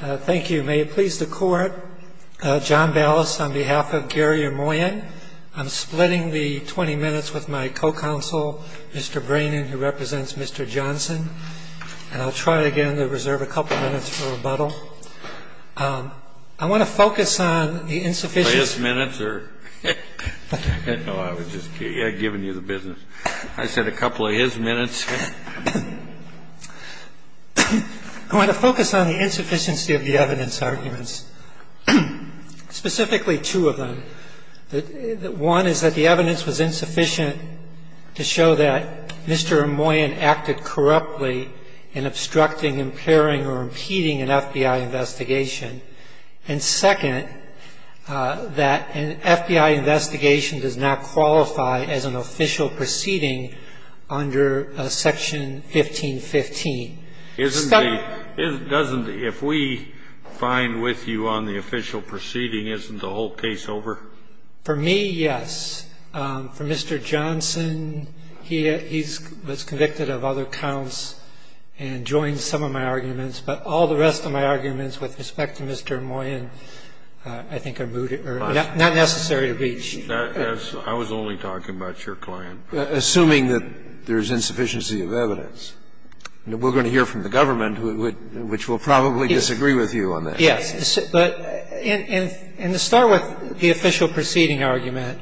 Thank you. May it please the Court, John Ballas on behalf of Gary Ermoian. I'm splitting the 20 minutes with my co-counsel, Mr. Breenan, who represents Mr. Johnson. And I'll try again to reserve a couple minutes for rebuttal. I want to focus on the insufficient... His minutes or... I didn't know I was just giving you the business. I said a couple of his minutes. I want to focus on the insufficiency of the evidence arguments, specifically two of them. One is that the evidence was insufficient to show that Mr. Ermoian acted corruptly in obstructing, impairing, or impeding an FBI investigation. And second, that an FBI investigation does not qualify as an official proceeding under Section 1515. Isn't the... If we find with you on the official proceeding, isn't the whole case over? For me, yes. For Mr. Johnson, he was convicted of other counts and joined some of my arguments. But all the rest of my arguments with respect to Mr. Ermoian, I think, are not necessary to reach. I was only talking about your client. Assuming that there's insufficiency of evidence. We're going to hear from the government, which will probably disagree with you on that. Yes. But in the start with the official proceeding argument,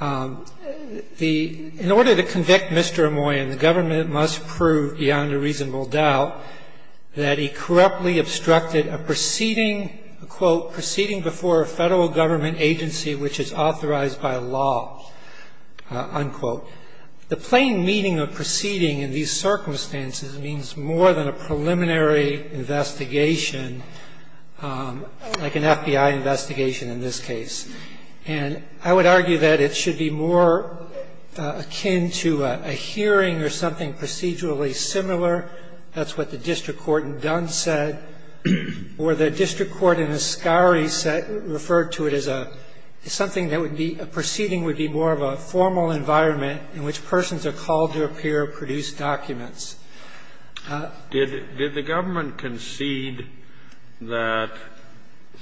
in order to convict Mr. Ermoian, the government must prove beyond a reasonable doubt that he corruptly obstructed a proceeding, quote, proceeding before a Federal government agency which is authorized by law, unquote. The plain meaning of proceeding in these circumstances means more than a preliminary investigation, like an FBI investigation in this case. And I would argue that it should be more akin to a hearing or something procedurally similar, that's what the district court in Dunn said, or the district court in Ascari said, referred to it as a, something that would be, a proceeding would be more of a formal environment in which persons are called to appear to produce documents. Did the government concede that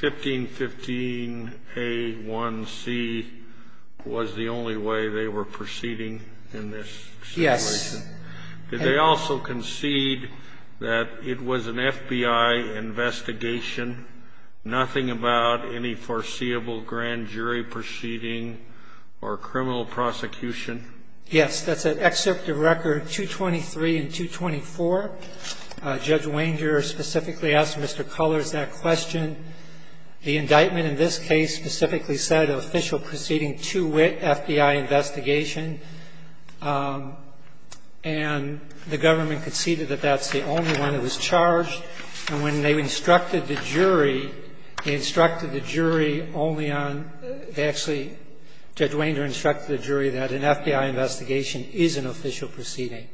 1515a1c was the only way they were proceeding in this situation? Yes. Did they also concede that it was an FBI investigation, nothing about any foreseeable grand jury proceeding or criminal prosecution? Yes. That's at Excerpt of Record 223 and 224. Judge Wanger specifically asked Mr. Cullors that question. The indictment in this case specifically said an official proceeding to wit FBI investigation. And the government conceded that that's the only one that was charged. And when they instructed the jury, they instructed the jury only on, actually Judge Wanger instructed the jury that an FBI investigation is an official proceeding.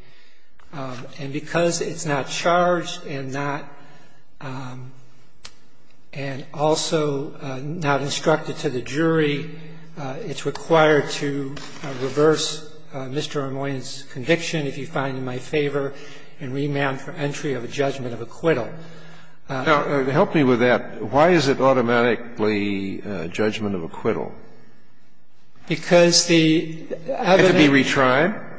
And because it's not charged and not, and also not instructed to the jury, it's required to reverse Mr. Armoin's conviction, if you find it in my favor, and remand for entry of a judgment of acquittal. Now, help me with that. Why is it automatically judgment of acquittal? Because the evidence. Had to be retried?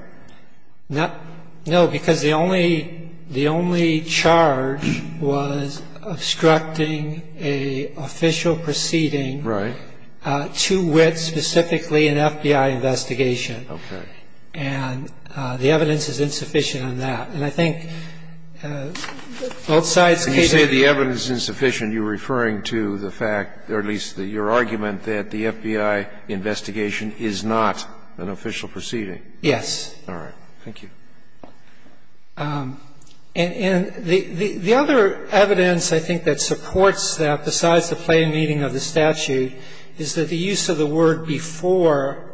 No, because the only, the only charge was obstructing an official proceeding. Right. So the evidence is insufficient on that. And I think both sides can't agree on that. And you say the evidence is insufficient. You're referring to the fact, or at least your argument, that the FBI investigation is not an official proceeding. Yes. All right. Thank you. And the other evidence I think that supports that, besides the plain meaning of the statute, is that the use of the word before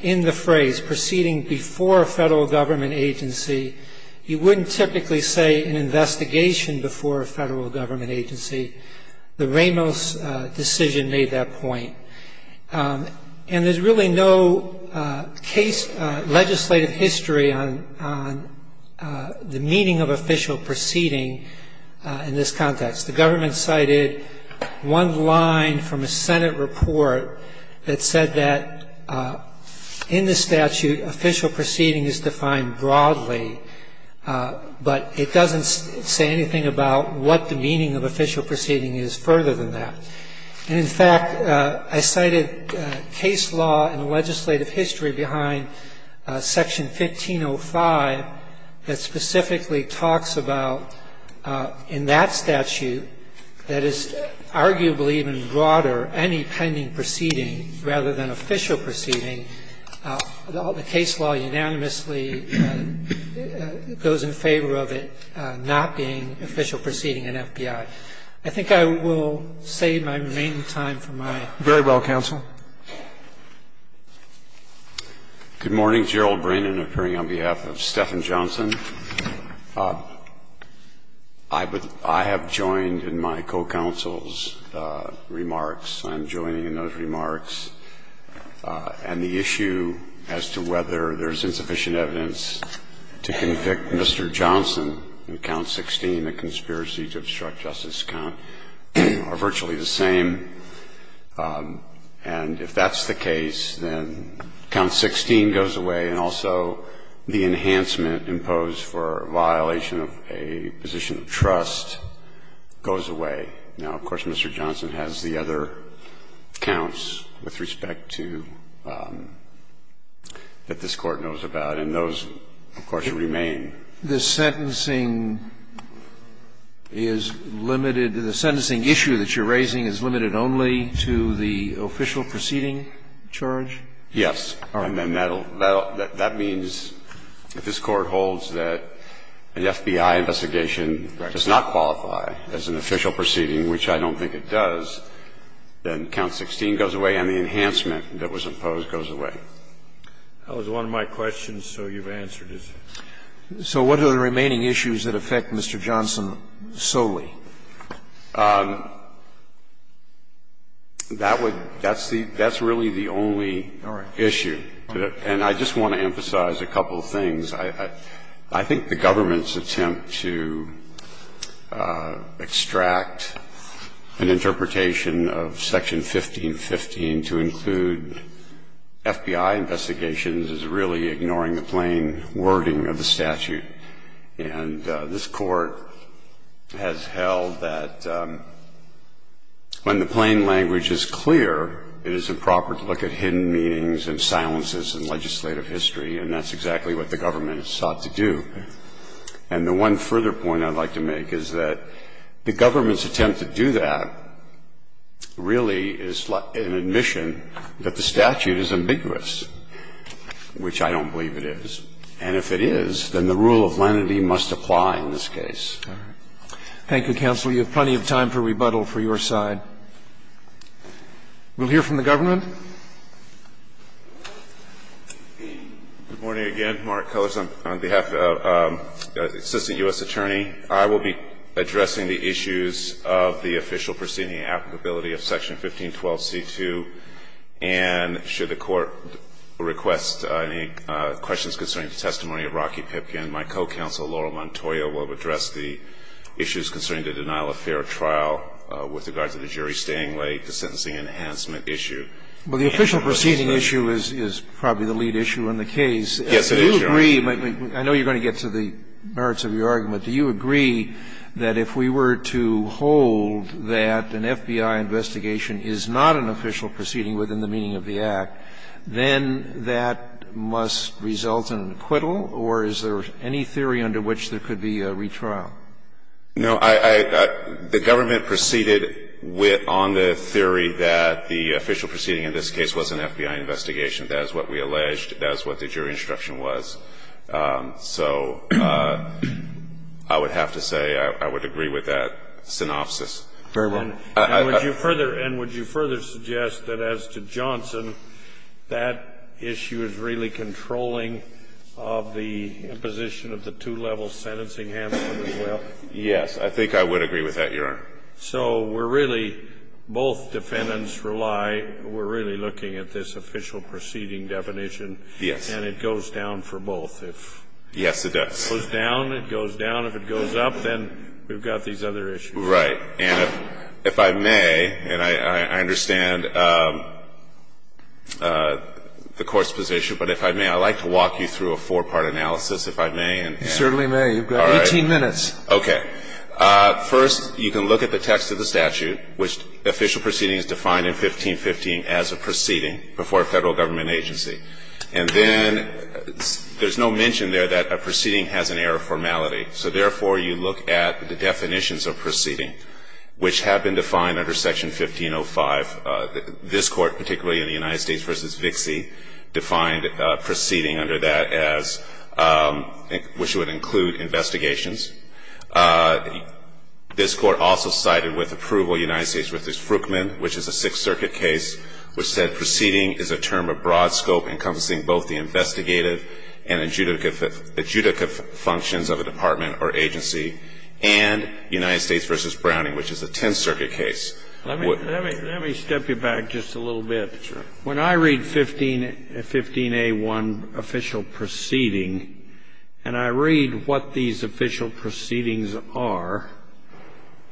in the phrase, proceeding before a federal government agency, you wouldn't typically say an investigation before a federal government agency. The Ramos decision made that point. And there's really no case, legislative history on the meaning of official proceeding in this context. The government cited one line from a Senate report that said that in the statute official proceeding is defined broadly, but it doesn't say anything about what the meaning of official proceeding is further than that. And, in fact, I cited case law and legislative history behind Section 1505 that specifically talks about, in that statute, that is arguably even broader, any pending proceeding rather than official proceeding. The case law unanimously goes in favor of it not being official proceeding in FBI. I think I will save my remaining time for my next question. Very well, counsel. Good morning. Gerald Brandon appearing on behalf of Stephen Johnson. I have joined in my co-counsel's remarks. I'm joining in those remarks. And the issue as to whether there's insufficient evidence to convict Mr. Johnson in Count 16, a conspiracy to obstruct Justice Count, are virtually the same. And if that's the case, then Count 16 goes away and also the enhancement imposed for a violation of a position of trust goes away. Now, of course, Mr. Johnson has the other counts with respect to that this Court knows about, and those, of course, remain. The sentencing is limited to the sentencing issue that you're raising is limited only to the official proceeding charge? Yes. And that means if this Court holds that the FBI investigation does not qualify as an official proceeding, which I don't think it does, then Count 16 goes away and the enhancement that was imposed goes away. That was one of my questions, so you've answered it. So what are the remaining issues that affect Mr. Johnson solely? That would be the only issue. And I just want to emphasize a couple of things. I think the government's attempt to extract an interpretation of Section 1515 to include FBI investigations is really ignoring the plain wording of the statute. And this Court has held that when the plain language is clear, it is improper to look at hidden meanings and silences in legislative history, and that's exactly what the government has sought to do. And the one further point I'd like to make is that the government's attempt to do that really is an admission that the statute is ambiguous, which I don't believe it is. And if it is, then the rule of lenity must apply in this case. Thank you, counsel. You have plenty of time for rebuttal for your side. We'll hear from the government. Good morning again. Mark Cullors on behalf of the Assistant U.S. Attorney. I will be addressing the issues of the official proceeding applicability of Section 1512c2, and should the Court request any questions concerning the testimony of Rocky Pipkin, my co-counsel, Laurel Montoya, will address the issues concerning the denial of fair trial with regards to the jury staying late, the sentencing enhancement issue. Well, the official proceeding issue is probably the lead issue in the case. Yes, it is, Your Honor. Do you agree? I know you're going to get to the merits of your argument. Do you agree that if we were to hold that an FBI investigation is not an official proceeding within the meaning of the Act, then that must result in acquittal, or is there any theory under which there could be a retrial? No. The government proceeded on the theory that the official proceeding in this case was an FBI investigation. That is what we alleged. That is what the jury instruction was. So I would have to say I would agree with that synopsis. Very well. And would you further suggest that as to Johnson, that issue is really controlling of the imposition of the two-level sentencing enhancement as well? Yes. I think I would agree with that, Your Honor. So we're really, both defendants rely, we're really looking at this official proceeding definition. Yes. And it goes down for both. Yes, it does. If it goes down, it goes down. If it goes up, then we've got these other issues. Right. Let me walk you through a four-part analysis, if I may. You certainly may. You've got 18 minutes. All right. Okay. First, you can look at the text of the statute, which official proceeding is defined in 1515 as a proceeding before a federal government agency. And then there's no mention there that a proceeding has an error of formality. So therefore, you look at the definitions of proceeding, which have been defined under Section 1505. This Court, particularly in the United States v. Vixie, defined proceeding under that as, which would include investigations. This Court also cited with approval United States v. Fruchman, which is a Sixth Circuit case, which said proceeding is a term of broad scope encompassing both the investigative and adjudicative functions of a department or agency and United States v. Browning, which is a Tenth Circuit case. Let me step you back just a little bit. Sure. When I read 15A1, official proceeding, and I read what these official proceedings are,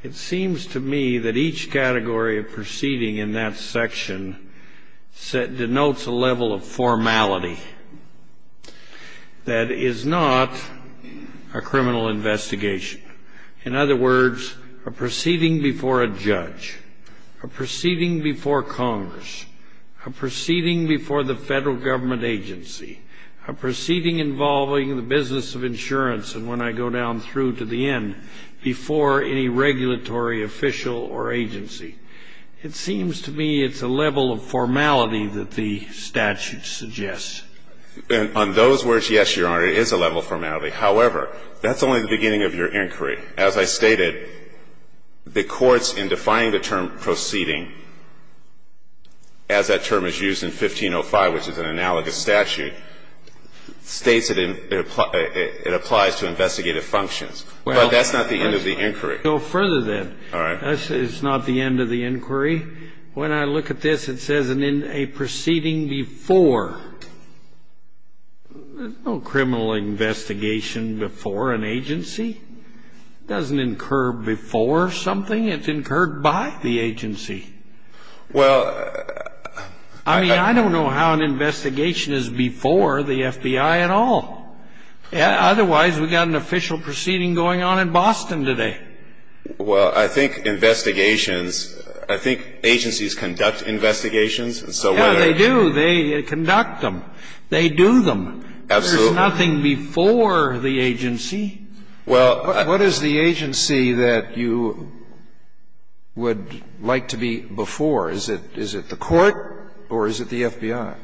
it seems to me that each category of proceeding in that section denotes a level of formality that is not a criminal investigation. In other words, a proceeding before a judge, a proceeding before Congress, a proceeding before the federal government agency, a proceeding involving the business of insurance, and when I go down through to the end, before any regulatory official or agency. It seems to me it's a level of formality that the statute suggests. And on those words, yes, Your Honor, it is a level of formality. However, that's only the beginning of your inquiry. As I stated, the courts in defying the term proceeding, as that term is used in 1505, which is an analogous statute, states it applies to investigative functions. But that's not the end of the inquiry. Well, let's go further, then. All right. It's not the end of the inquiry. When I look at this, it says a proceeding before. There's no criminal investigation before an agency. It doesn't incur before something. It's incurred by the agency. Well, I mean, I don't know how an investigation is before the FBI at all. Otherwise, we've got an official proceeding going on in Boston today. Well, I think investigations, I think agencies conduct investigations. Yeah, they do. They conduct them. They do them. Absolutely. There's nothing before the agency. Well, I — What is the agency that you would like to be before? Is it the court or is it the FBI?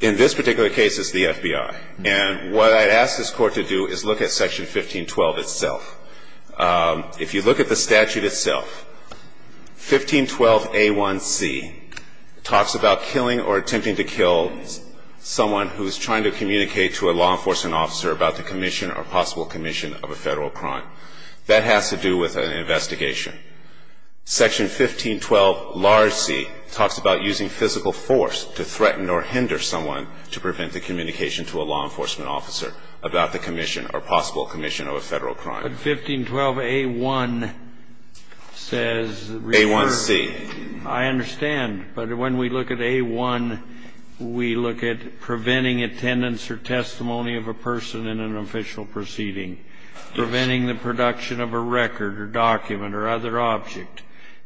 In this particular case, it's the FBI. And what I'd ask this Court to do is look at Section 1512 itself. If you look at the statute itself, 1512A1C talks about killing or attempting to kill someone who's trying to communicate to a law enforcement officer about the commission or possible commission of a Federal crime. That has to do with an investigation. Section 1512 large C talks about using physical force to threaten or hinder someone to prevent the communication to a law enforcement officer about the commission or possible commission of a Federal crime. But 1512A1 says — A1C. I understand. But when we look at A1, we look at preventing attendance or testimony of a person in an official proceeding, preventing the production of a record or document or other object,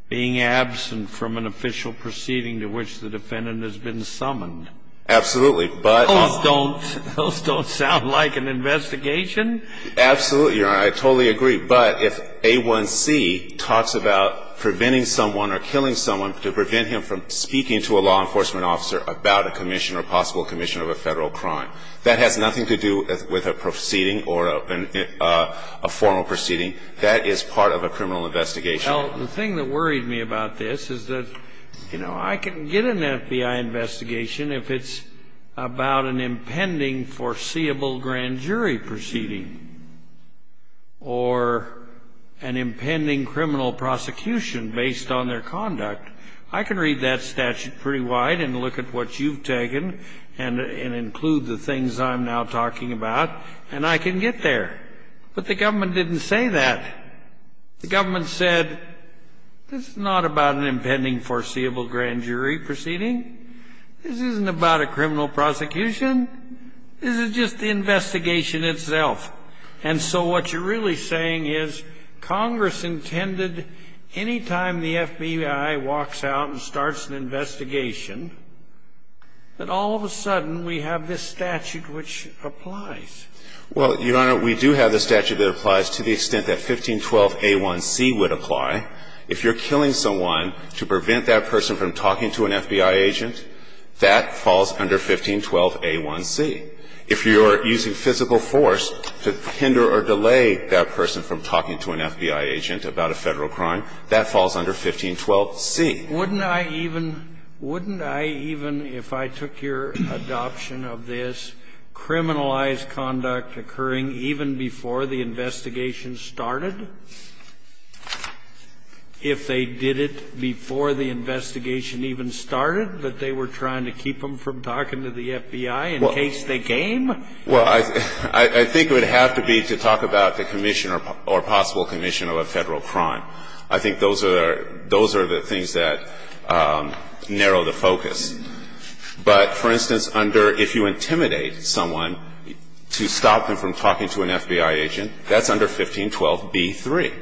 being absent from an official proceeding to which the defendant has been summoned. Absolutely. But — Those don't sound like an investigation. Absolutely. I totally agree. But if A1C talks about preventing someone or killing someone to prevent him from speaking to a law enforcement officer about a commission or possible commission of a Federal crime, that has nothing to do with a proceeding or a formal proceeding. That is part of a criminal investigation. Well, the thing that worried me about this is that, you know, I can get an FBI investigation if it's about an impending foreseeable grand jury proceeding or an impending criminal prosecution based on their conduct. I can read that statute pretty wide and look at what you've taken and include the things I'm now talking about, and I can get there. But the government didn't say that. The government said, this is not about an impending foreseeable grand jury proceeding. This isn't about a criminal prosecution. This is just the investigation itself. And so what you're really saying is Congress intended, any time the FBI walks out and starts an investigation, that all of a sudden we have this statute which applies. Well, Your Honor, we do have the statute that applies to the extent that 1512a1c would apply. If you're killing someone to prevent that person from talking to an FBI agent, that falls under 1512a1c. If you're using physical force to hinder or delay that person from talking to an FBI agent about a Federal crime, that falls under 1512c. Wouldn't I even, wouldn't I even, if I took your adoption of this, criminalize conduct occurring even before the investigation started? If they did it before the investigation even started, that they were trying to keep them from talking to the FBI in case they came? Well, I think it would have to be to talk about the commission or possible commission of a Federal crime. I think those are, those are the things that narrow the focus. But, for instance, under, if you intimidate someone to stop them from talking to an FBI agent, that's under 1512b3.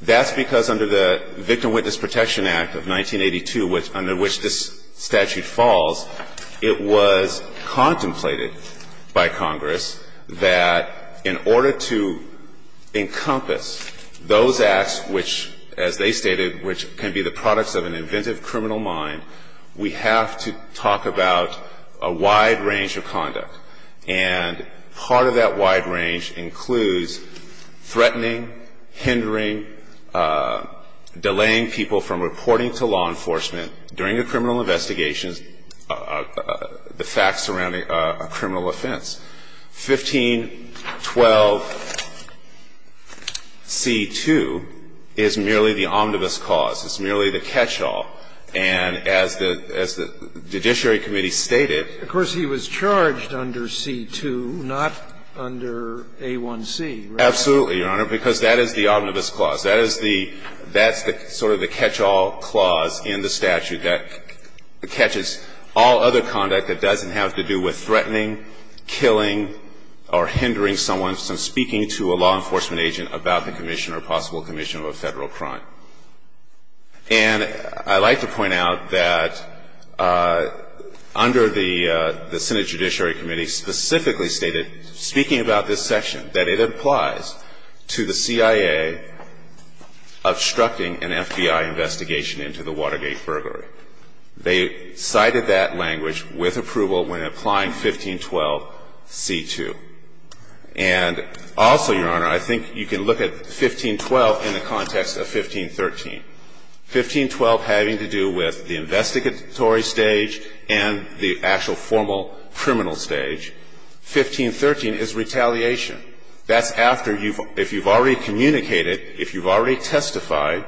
That's because under the Victim Witness Protection Act of 1982, under which this statute falls, it was contemplated by Congress that in order to encompass those acts which, as they stated, which can be the products of an inventive criminal mind, we have to talk about a wide range of conduct. And part of that wide range includes threatening, hindering, delaying people from reporting to law enforcement during a criminal investigation of the facts surrounding a criminal offense. 1512c2 is merely the omnibus clause. It's merely the catch-all. And as the, as the Judiciary Committee stated. Of course, he was charged under c2, not under a1c, right? Absolutely, Your Honor, because that is the omnibus clause. That is the, that's the sort of the catch-all clause in the statute that catches all other conduct that doesn't have to do with threatening, killing, or hindering someone from speaking to a law enforcement agent about the commission or possible commission of a federal crime. And I'd like to point out that under the Senate Judiciary Committee specifically stated, speaking about this section, that it applies to the CIA obstructing an FBI investigation into the Watergate burglary. They cited that language with approval when applying 1512c2. And also, Your Honor, I think you can look at 1512 in the context of 1513. 1512 having to do with the investigatory stage and the actual formal criminal stage, 1513 is retaliation. That's after you've, if you've already communicated, if you've already testified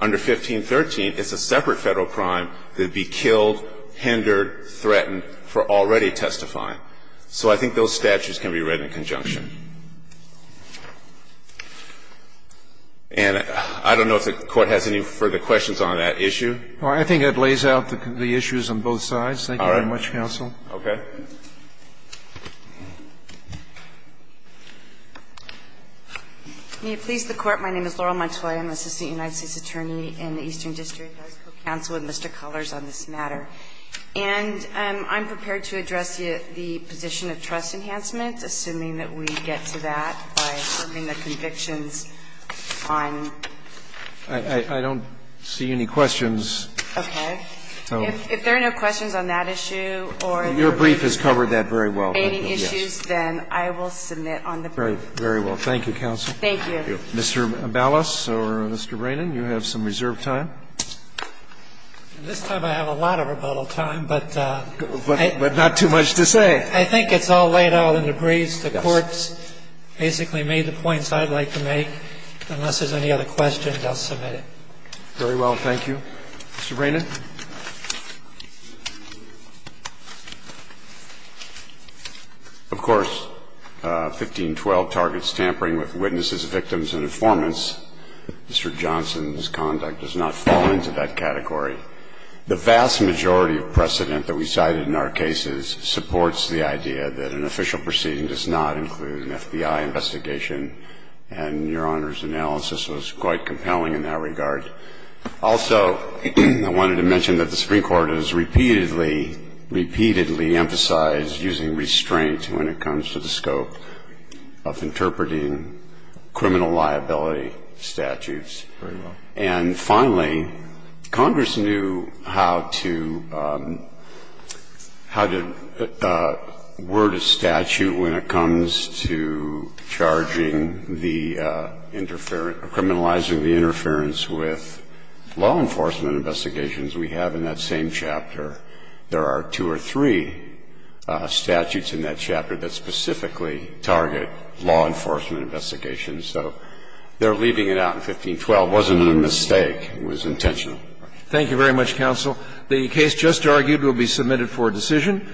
under 1513, it's a separate federal crime that'd be killed, hindered, threatened for already testifying. So I think those statutes can be read in conjunction. And I don't know if the Court has any further questions on that issue. Well, I think it lays out the issues on both sides. Thank you very much, counsel. All right. Okay. May it please the Court. My name is Laurel Montoya. I'm an assistant United States attorney in the Eastern District Advisory Council with Mr. Cullors on this matter. And I'm prepared to address the position of trust enhancement, assuming that we get to that by serving the convictions on. I don't see any questions. Okay. If there are no questions on that issue or the remaining issues, then I will submit on the brief. Very well. Thank you, counsel. Thank you. Mr. Ballas or Mr. Brannon, you have some reserved time. This time I have a lot of rebuttal time, but not too much to say. I think it's all laid out in the briefs. The Court's basically made the points I'd like to make. Unless there's any other questions, I'll submit it. Very well. Thank you. Mr. Brannon. Of course, 1512 targets tampering with witnesses, victims, and informants. Mr. Johnson's conduct does not fall into that category. The vast majority of precedent that we cited in our cases supports the idea that an official proceeding does not include an FBI investigation. And Your Honor's analysis was quite compelling in that regard. Also, I wanted to mention that the Supreme Court has repeatedly, repeatedly emphasized using restraint when it comes to the scope of interpreting criminal liability statutes. Very well. And finally, Congress knew how to, how to word a statute when it comes to charging the interference, criminalizing the interference with law enforcement investigations we have in that same chapter. There are two or three statutes in that chapter that specifically target law enforcement investigations. So they're leaving it out in 1512. It wasn't a mistake. It was intentional. Thank you very much, counsel. The case just argued will be submitted for decision.